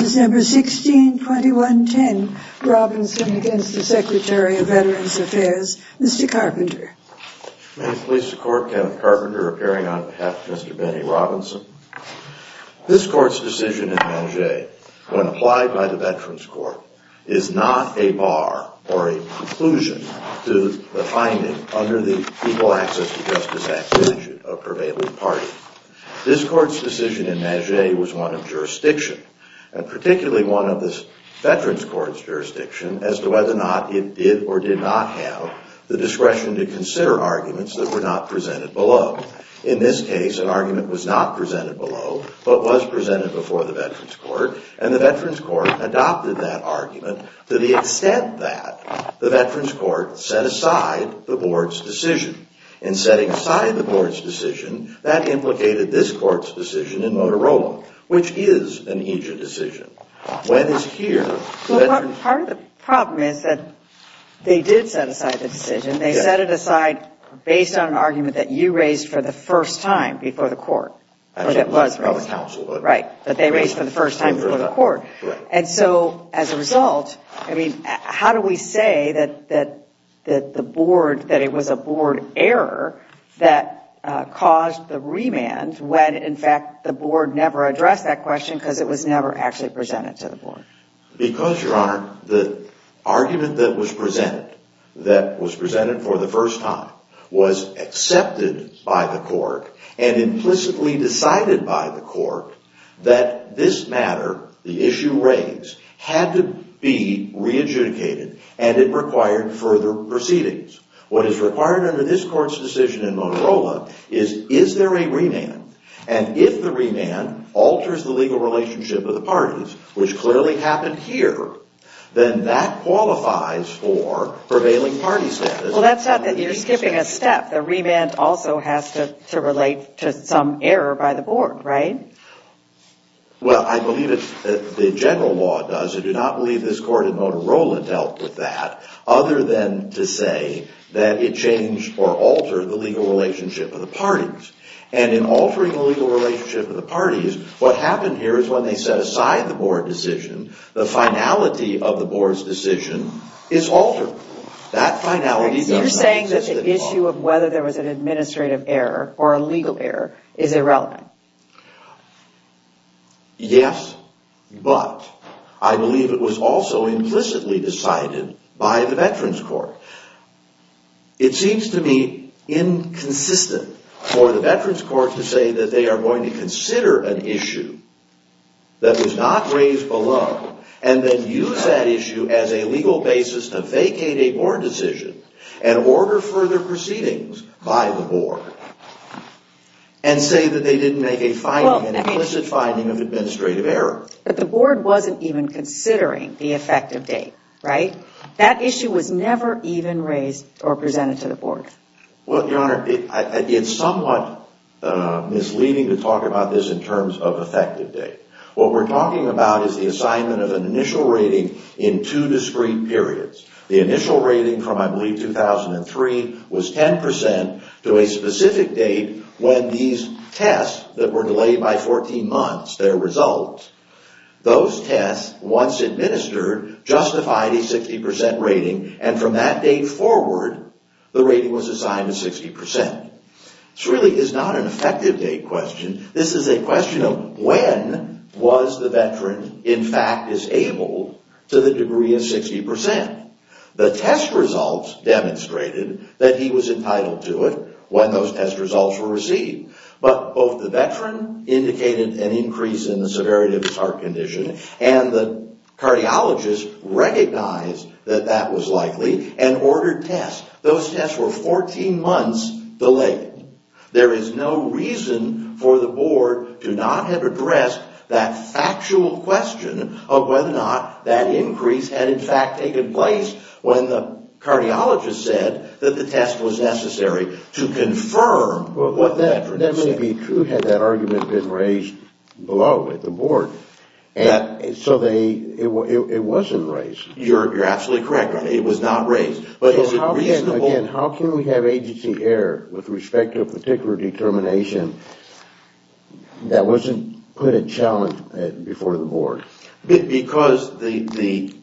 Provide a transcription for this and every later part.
December 16, 2110, Robinson against the Secretary of Veterans Affairs, Mr. Carpenter. May it please the Court, Kenneth Carpenter appearing on behalf of Mr. Benny Robinson. This Court's decision in Manget, when applied by the Veterans Court, is not a bar or a conclusion to the finding under the Equal Access to Justice Act statute of Prevailing Party. This Court's decision in Manget was one of jurisdiction, and particularly one of the Veterans Court's jurisdiction as to whether or not it did or did not have the discretion to consider arguments that were not presented below. In this case, an argument was not presented below, but was presented before the Veterans Court, and the Veterans Court adopted that argument to the extent that the Veterans Court set aside the Board's decision. In setting aside the Board's decision, that implicated this Court's decision in Motorola, which is an Egypt decision. Part of the problem is that they did set aside the decision. They set it aside based on an argument that you raised for the first time before the Court, or that was raised, but they raised it for the first time before the Court. And so, as a result, how do we say that the Board, that it was a Board error that caused the remand when, in fact, the Board never addressed that question because it was never actually presented to the Board? Because, Your Honor, the argument that was presented, that was presented for the first time, was accepted by the Court and implicitly decided by the Court that this matter, the proceedings. What is required under this Court's decision in Motorola is, is there a remand? And if the remand alters the legal relationship of the parties, which clearly happened here, then that qualifies for prevailing party status. Well, that's not that you're skipping a step. The remand also has to relate to some error by the Board, right? Well, I believe it's the general law does. I do not believe this Court in Motorola dealt with that other than to say that it changed or altered the legal relationship of the parties. And in altering the legal relationship of the parties, what happened here is when they set aside the Board decision, the finality of the Board's decision is altered. That finality does not exist at all. So you're saying that the issue of whether there was an administrative error or a legal error is irrelevant? Yes, but I believe it was also implicitly decided by the Veterans Court. It seems to me inconsistent for the Veterans Court to say that they are going to consider an issue that was not raised below and then use that issue as a legal basis to vacate a Board decision and order further proceedings by the Board and say that they didn't make an implicit finding of administrative error. But the Board wasn't even considering the effective date, right? That issue was never even raised or presented to the Board. Well, Your Honor, it's somewhat misleading to talk about this in terms of effective date. What we're talking about is the assignment of an initial rating in two discrete periods. The initial rating from, I believe, 2003 was 10% to a specific date when these tests that were delayed by 14 months, their results, those tests, once administered, justified a 60% rating, and from that date forward, the rating was assigned a 60%. This really is not an effective date question. This is a question of when was the Veteran in fact disabled to the degree of 60%. The test results demonstrated that he was entitled to it when those test results were received, but both the Veteran indicated an increase in the severity of his heart condition and the cardiologist recognized that that was likely and ordered tests. Those tests were 14 months delayed. There is no reason for the Board to not have addressed that factual question of whether or not that increase had in fact taken place when the cardiologist said that the test was necessary to confirm what the Veteran said. That may be true had that argument been raised below at the Board. So it wasn't raised. You're absolutely correct. It was not raised. Again, how can we have agency error with respect to a particular determination that wasn't put at challenge before the Board? Because the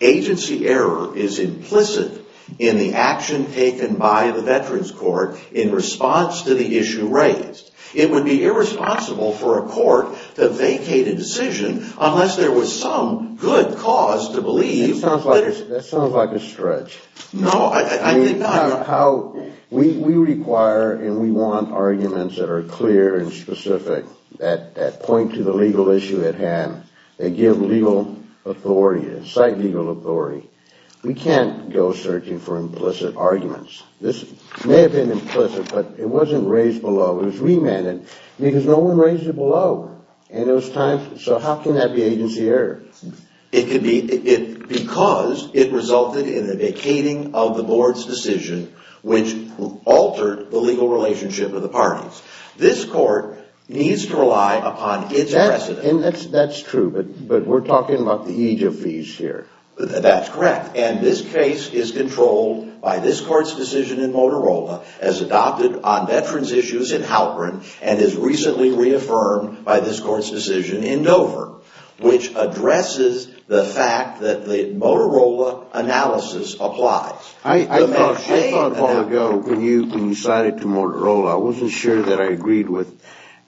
agency error is implicit in the action taken by the Veterans Court in response to the issue raised. It would be irresponsible for a court to vacate a decision unless there was some good cause to believe. That sounds like a stretch. No, I think not. We require and we want arguments that are clear and specific, that point to the legal issue at hand, that give legal authority, cite legal authority. We can't go searching for implicit arguments. This may have been implicit, but it wasn't raised below. It was remanded because no one raised it below. So how can that be agency error? Because it resulted in the vacating of the Board's decision, which altered the legal relationship of the parties. This court needs to rely upon its precedent. That's true, but we're talking about the aegis of fees here. That's correct. And this case is controlled by this Court's decision in Motorola, as adopted on Veterans I thought a while ago when you cited to Motorola, I wasn't sure that I agreed with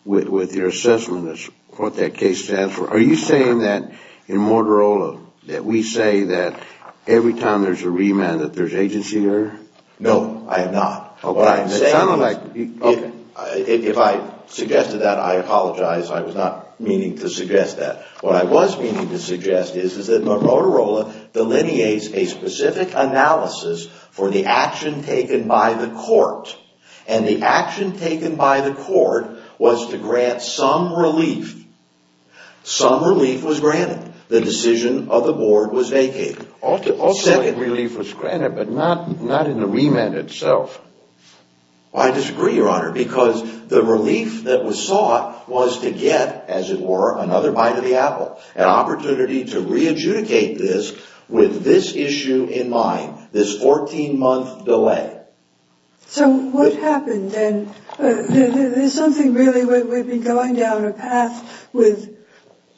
your assessment of what that case stands for. Are you saying that in Motorola that we say that every time there's a remand that there's agency error? No, I am not. What I'm saying is if I suggested that, I apologize. I was not meaning to suggest that. What I was meaning to suggest is that Motorola delineates a specific analysis for the action taken by the Court, and the action taken by the Court was to grant some relief. Some relief was granted. The decision of the Board was vacated. Also some relief was granted, but not in the remand itself. I disagree, Your Honor, because the relief that was sought was to get, as it were, another bite of the apple, an opportunity to re-adjudicate this with this issue in mind, this 14-month delay. So what happened then? There's something really, we've been going down a path with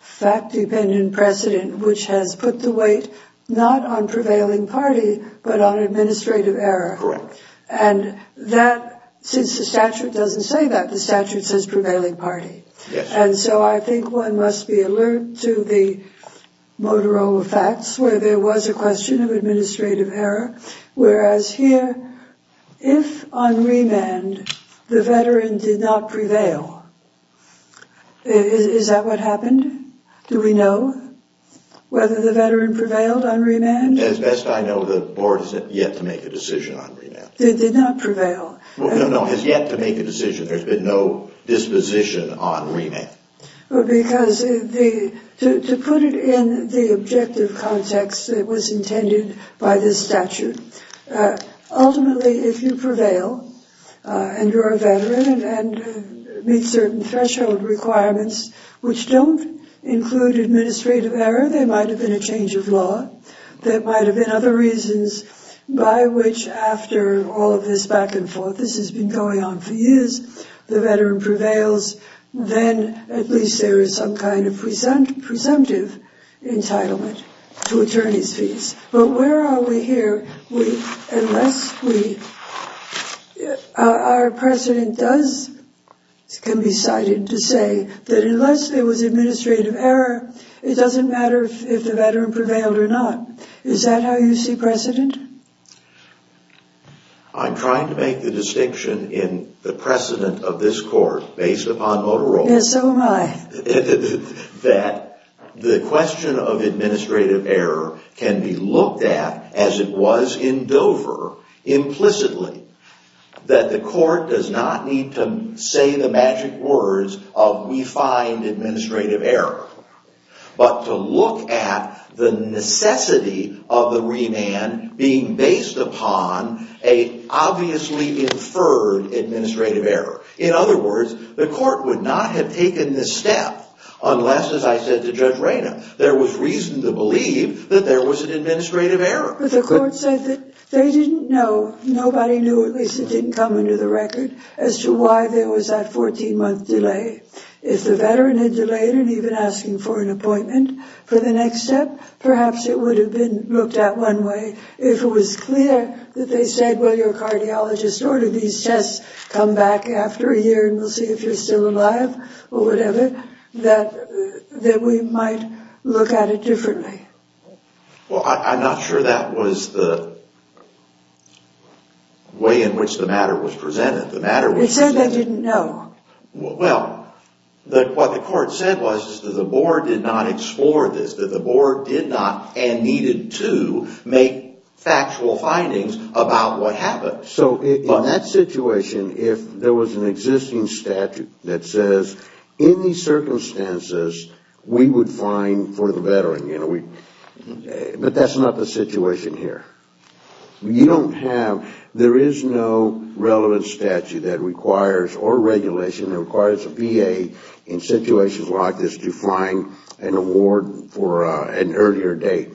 fact-dependent precedent, which has put the weight not on prevailing party, but on administrative error. Correct. And that, since the statute doesn't say that, the statute says prevailing party. Yes. And so I think one must be alert to the Motorola facts, where there was a question of administrative error, whereas here, if on remand, the veteran did not prevail, is that what happened? Do we know whether the veteran prevailed on remand? As best I know, the Board has yet to make a decision on remand. Did not prevail. No, no, has yet to make a decision. There's been no disposition on remand. Because to put it in the objective context that was intended by this statute, ultimately, if you prevail, and you're a veteran, and meet certain threshold requirements, which don't include administrative error, there might have been a change of law. There might have been other reasons by which, after all of this back and forth, this has been going on for years, the veteran prevails, then at least there is some kind of presumptive entitlement to attorney's fees. But where are we here, unless we, our precedent does, can be cited to say that unless there was administrative error, it doesn't matter if the veteran prevailed or not. Is that how you see precedent? I'm trying to make the distinction in the precedent of this court, based upon Motorola. Yes, so am I. That the question of administrative error can be looked at as it was in Dover, implicitly. That the court does not need to say the magic words of, we find administrative error. But to look at the necessity of the remand being based upon a obviously inferred administrative error. In other words, the court would not have taken this step unless, as I said to Judge Rayna, there was reason to believe that there was an administrative error. But the court said that they didn't know, nobody knew, at least it didn't come into the record, as to why there was that 14-month delay. If the veteran had delayed and even asking for an appointment for the next step, perhaps it would have been looked at one way. If it was clear that they said, well, your cardiologist ordered these tests, come back after a year and we'll see if you're still alive, or whatever, that we might look at it differently. Well, I'm not sure that was the way in which the matter was presented. It said they didn't know. Well, what the court said was that the board did not explore this, that the board did not and needed to make factual findings about what happened. So in that situation, if there was an existing statute that says, in these circumstances, we would find for the veteran, you know, but that's not the situation here. You don't have, there is no relevant statute that requires, or regulation, that requires a VA in situations like this to find an award for an earlier date.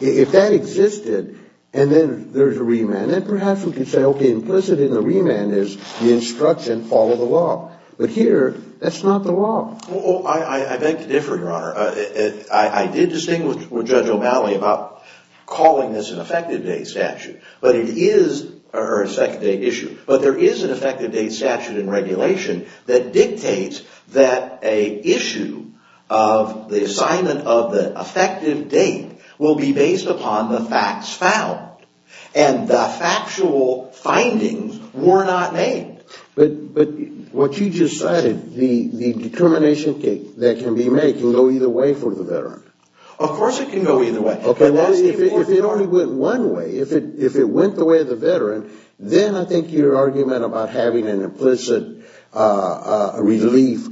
If that existed, and then there's a remand, then perhaps we could say, okay, implicit in the remand is the instruction, follow the law. But here, that's not the law. Well, I beg to differ, Your Honor. I did distinguish with Judge O'Malley about calling this an effective date statute. But it is, or an effective date issue. But there is an effective date statute in regulation that dictates that an issue of the assignment of the effective date will be based upon the facts found. And the factual findings were not made. But what you just cited, the determination that can be made, can go either way for the veteran. Of course it can go either way. If it only went one way, if it went the way of the veteran, then I think your argument about having an implicit relief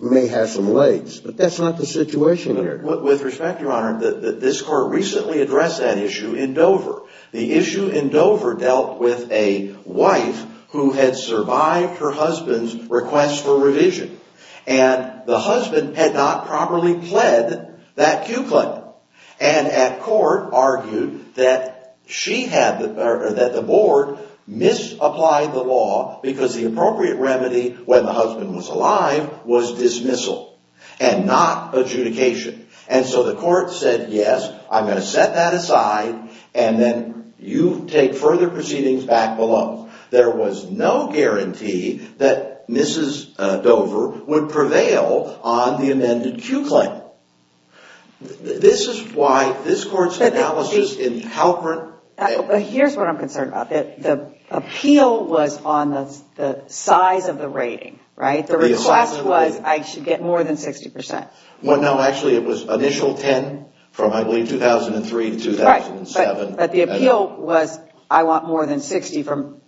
may have some legs. But that's not the situation here. With respect, Your Honor, this Court recently addressed that issue in Dover. The issue in Dover dealt with a wife who had survived her husband's request for revision. And the husband had not properly pled that Q claim. And at court argued that she had, or that the board, misapplied the law because the appropriate remedy when the husband was alive was dismissal and not adjudication. And so the court said, yes, I'm going to set that aside, and then you take further proceedings back below. There was no guarantee that Mrs. Dover would prevail on the amended Q claim. This is why this Court's analysis in Halperin. But here's what I'm concerned about. The appeal was on the size of the rating, right? The request was I should get more than 60%. Well, no, actually it was initial 10 from, I believe, 2003 to 2007. But the appeal was I want more than 60 from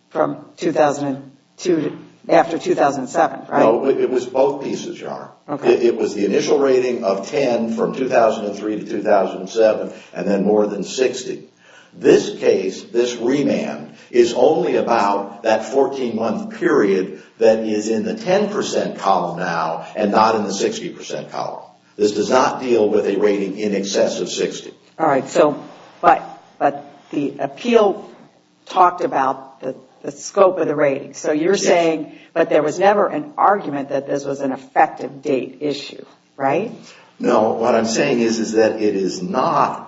2002 after 2007, right? No, it was both pieces, Your Honor. It was the initial rating of 10 from 2003 to 2007 and then more than 60. This case, this remand, is only about that 14-month period that is in the 10% column now and not in the 60% column. This does not deal with a rating in excess of 60. All right, but the appeal talked about the scope of the rating. So you're saying that there was never an argument that this was an effective date issue, right? No, what I'm saying is that it is not.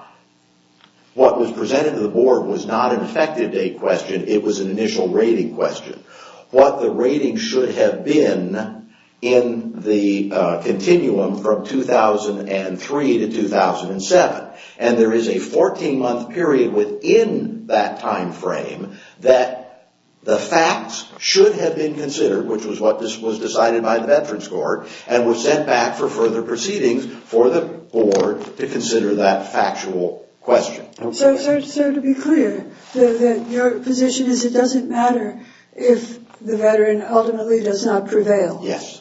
What was presented to the Board was not an effective date question. It was an initial rating question. What the rating should have been in the continuum from 2003 to 2007. And there is a 14-month period within that time frame that the facts should have been considered, which was what was decided by the Veterans Court, and were sent back for further proceedings for the Board to consider that factual question. So to be clear, your position is it doesn't matter if the veteran ultimately does not prevail? Yes,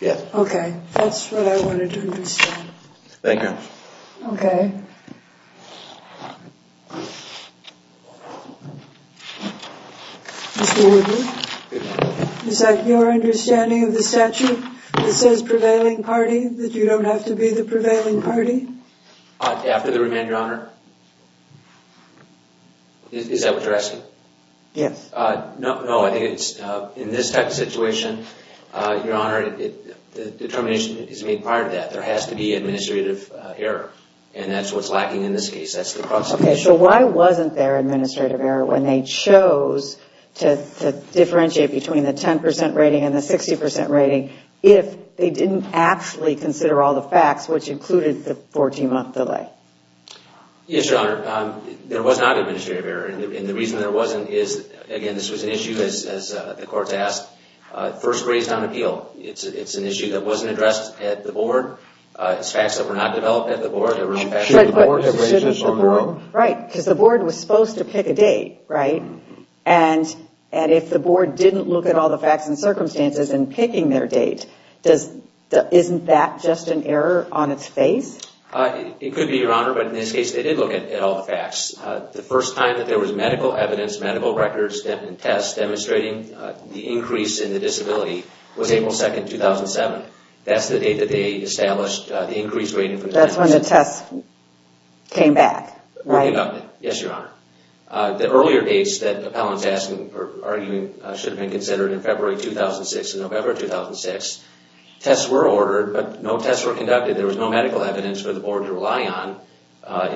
yes. Okay, that's what I wanted to understand. Thank you, Your Honor. Okay. Mr. Woodley, is that your understanding of the statute that says prevailing party, that you don't have to be the prevailing party? After the remand, Your Honor? Is that what you're asking? Yes. No, I think it's in this type of situation, Your Honor, the determination is made prior to that. There has to be administrative error, and that's what's lacking in this case. That's the problem. Okay, so why wasn't there administrative error when they chose to differentiate between the 10% rating and the 60% rating if they didn't actually consider all the facts, which included the 14-month delay? Yes, Your Honor, there was not administrative error. And the reason there wasn't is, again, this was an issue, as the courts asked, first grazed on appeal. It's an issue that wasn't addressed at the board. It's facts that were not developed at the board. Should the board have raised this on the road? Right, because the board was supposed to pick a date, right? And if the board didn't look at all the facts and circumstances in picking their date, isn't that just an error on its face? It could be, Your Honor, but in this case, they did look at all the facts. The first time that there was medical evidence, medical records, and tests demonstrating the increase in the disability was April 2nd, 2007. That's the date that they established the increased rating. That's when the tests came back, right? Yes, Your Honor. The earlier dates that the appellant is arguing should have been considered in February 2006 and November 2006, tests were ordered, but no tests were conducted. There was no medical evidence for the board to rely on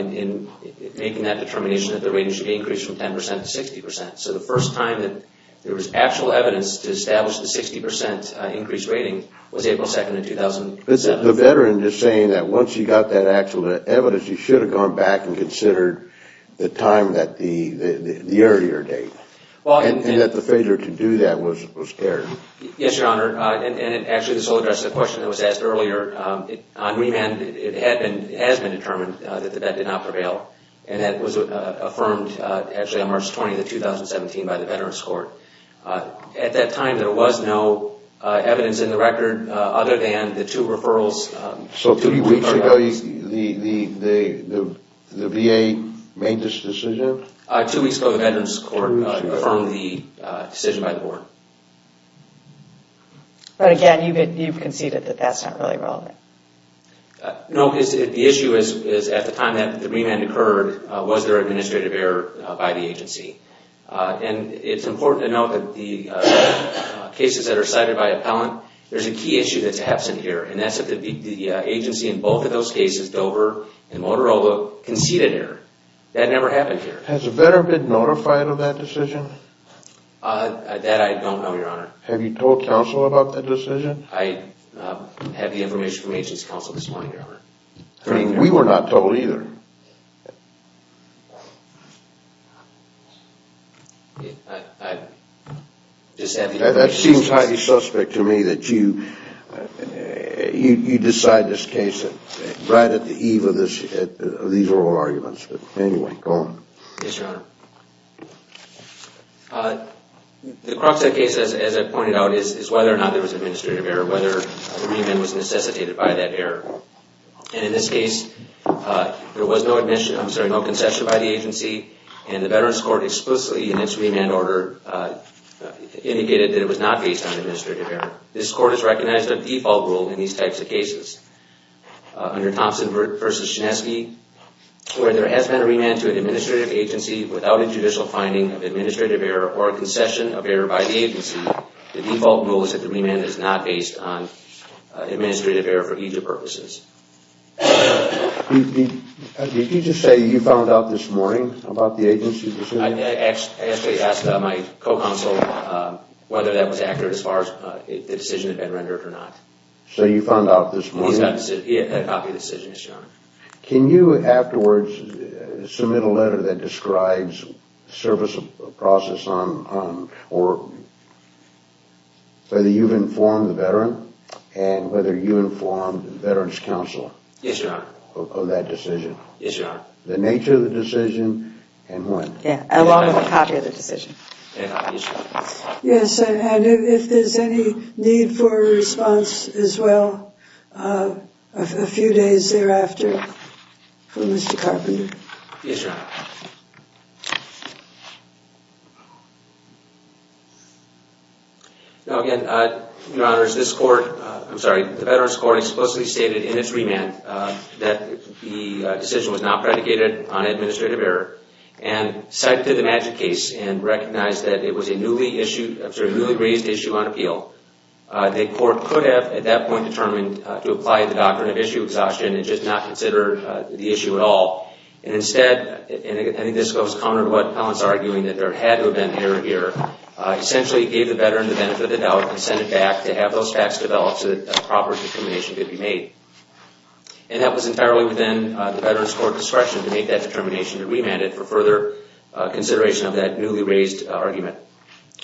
in making that determination that the rating should be increased from 10% to 60%. So the first time that there was actual evidence to establish the 60% increased rating was April 2nd, 2007. The veteran is saying that once you got that actual evidence, you should have gone back and considered the time, the earlier date, and that the failure to do that was there. Yes, Your Honor, and actually this will address the question that was asked earlier. On remand, it has been determined that the vet did not prevail, and that was affirmed actually on March 20th, 2017 by the Veterans Court. At that time, there was no evidence in the record other than the two referrals. So three weeks ago, the VA made this decision? Two weeks ago, the Veterans Court affirmed the decision by the board. But again, you've conceded that that's not really relevant. No, the issue is at the time that the remand occurred, was there administrative error by the agency? And it's important to note that the cases that are cited by appellant, there's a key issue that's absent here, and that's that the agency in both of those cases, Dover and Motorola, conceded error. That never happened here. Has a veteran been notified of that decision? That I don't know, Your Honor. Have you told counsel about that decision? I have the information from agency counsel this morning, Your Honor. We were not told either. That seems highly suspect to me that you decide this case right at the eve of these oral arguments. But anyway, go on. Yes, Your Honor. The crux of the case, as I pointed out, is whether or not there was administrative error, whether the remand was necessitated by that error. And in this case, there was no concession by the agency, and the Veterans Court explicitly in its remand order indicated that it was not based on administrative error. This court has recognized a default rule in these types of cases. Under Thompson v. Shineski, where there has been a remand to an administrative agency without a judicial finding of administrative error or a concession of error by the agency, the default rule is that the remand is not based on administrative error for either purposes. Did you just say you found out this morning about the agency's decision? I actually asked my co-counsel whether that was accurate as far as the decision had been rendered or not. So you found out this morning? Yes, Your Honor. Can you, afterwards, submit a letter that describes service of process on or whether you've informed the veteran and whether you informed the Veterans Council of that decision? Yes, Your Honor. The nature of the decision and when? Along with a copy of the decision. Yes, Your Honor. Yes, and if there's any need for a response as well, a few days thereafter from Mr. Carpenter. Yes, Your Honor. Now, again, Your Honor, this court, I'm sorry, the Veterans Court explicitly stated in its remand that the decision was not predicated on administrative error and cited the Magic Case and recognized that it was a newly raised issue on appeal. The court could have, at that point, determined to apply the doctrine of issue exhaustion and just not consider the issue at all. And instead, and I think this goes counter to what Collins is arguing, that there had to have been an error here. Essentially, it gave the veteran the benefit of the doubt and sent it back to have those facts developed so that a proper determination could be made. And that was entirely within the Veterans Court discretion to make that determination to remand it for further consideration of that newly raised argument.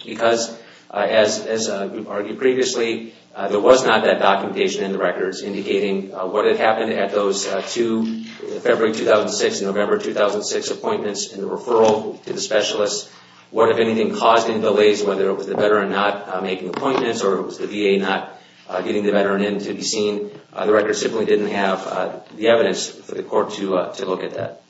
Because, as we've argued previously, there was not that documentation in the records indicating what had happened at those two February 2006 and November 2006 appointments in the referral to the specialists, what, if anything, caused any delays, whether it was the veteran not making appointments or it was the VA not getting the veteran in to be seen. The records simply didn't have the evidence for the court to look at that.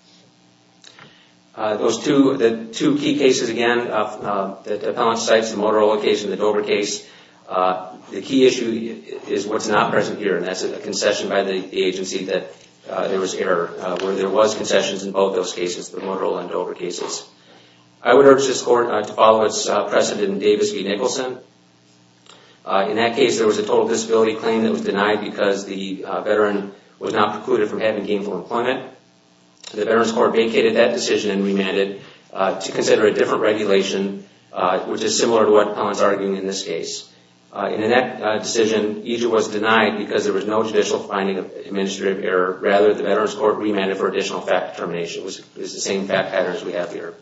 Those two key cases, again, the Appellant Cites, the Motorola case and the Dover case, the key issue is what's not present here, and that's a concession by the agency that there was error, where there was concessions in both those cases, the Motorola and Dover cases. I would urge this court to follow its precedent in Davis v. Nicholson. In that case, there was a total disability claim that was denied because the veteran was not precluded from having gainful employment. The Veterans Court vacated that decision and remanded to consider a different regulation, which is similar to what Appellant's arguing in this case. In that decision, EJ was denied because there was no judicial finding of administrative error. Rather, the Veterans Court remanded for additional fact determination. It was the same fact pattern as we have here.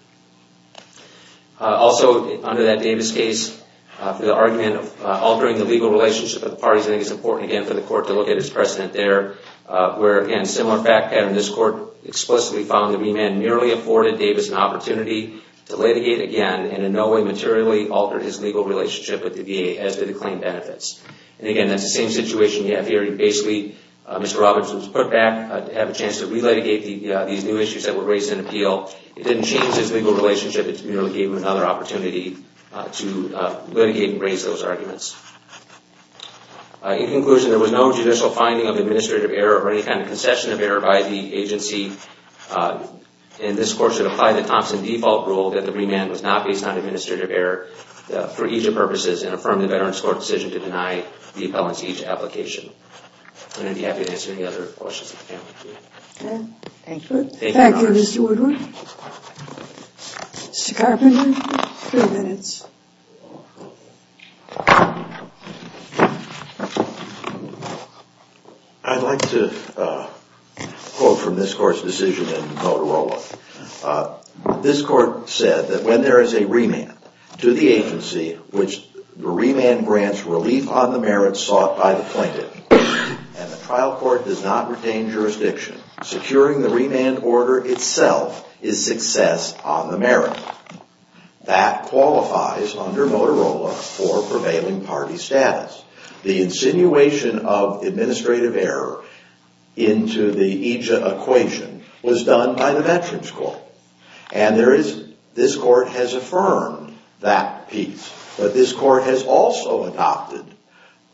Also, under that Davis case, the argument of altering the legal relationship of the parties, I think it's important, again, for the court to look at its precedent there, where, again, similar fact pattern. This court explicitly found the remand nearly afforded Davis an opportunity to litigate again and in no way materially altered his legal relationship with the VA as to the claim benefits. Again, that's the same situation you have here. Basically, Mr. Roberts was put back to have a chance to re-litigate these new issues that were raised in appeal. It didn't change his legal relationship. It merely gave him another opportunity to litigate and raise those arguments. In conclusion, there was no judicial finding of administrative error or any kind of concession of error by the agency. And this court should apply the Thompson default rule that the remand was not based on administrative error for each of the purposes and affirm the Veterans Court decision to deny the appellants each application. And I'd be happy to answer any other questions. Thank you. Thank you, Mr. Woodward. Mr. Carpenter, three minutes. I'd like to quote from this court's decision in Motorola. This court said that when there is a remand to the agency, which the remand grants relief on the merits sought by the plaintiff, and the trial court does not retain jurisdiction, securing the remand order itself is success on the merit. That qualifies under Motorola for prevailing party status. The insinuation of administrative error into the EJIA equation was done by the Veterans Court. And this court has affirmed that piece. But this court has also adopted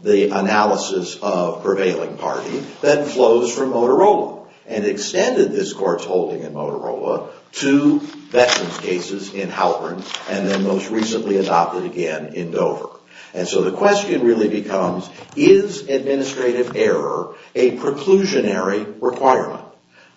the analysis of prevailing party that flows from Motorola and extended this court's holding in Motorola to Veterans cases in Halvern and then most recently adopted again in Dover. And so the question really becomes, is administrative error a preclusionary requirement?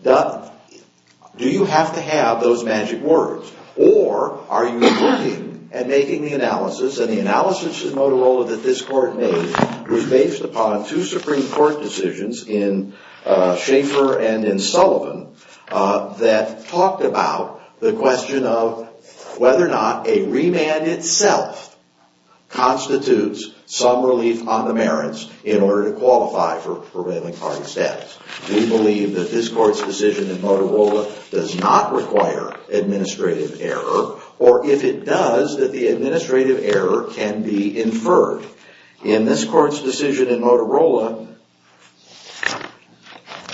Do you have to have those magic words? Or are you looking at making the analysis, and the analysis in Motorola that this court made was based upon two Supreme Court decisions in Schaefer and in Sullivan that talked about the question of whether or not a remand itself constitutes some relief on the merits in order to qualify for prevailing party status. We believe that this court's decision in Motorola does not require administrative error, or if it does, that the administrative error can be inferred. In this court's decision in Motorola,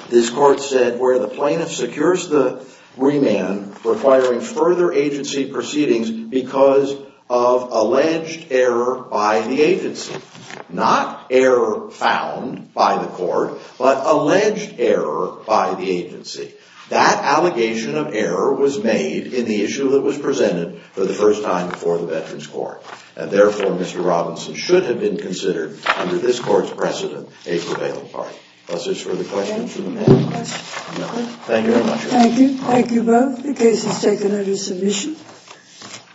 this court said where the plaintiff secures the remand, requiring further agency proceedings because of alleged error by the agency. Not error found by the court, but alleged error by the agency. That allegation of error was made in the issue that was presented for the first time before the Veterans Court. And therefore, Mr. Robinson should have been considered under this court's precedent a prevailing party. Are there any further questions? Thank you very much. Thank you. Thank you both. The case is taken under submission.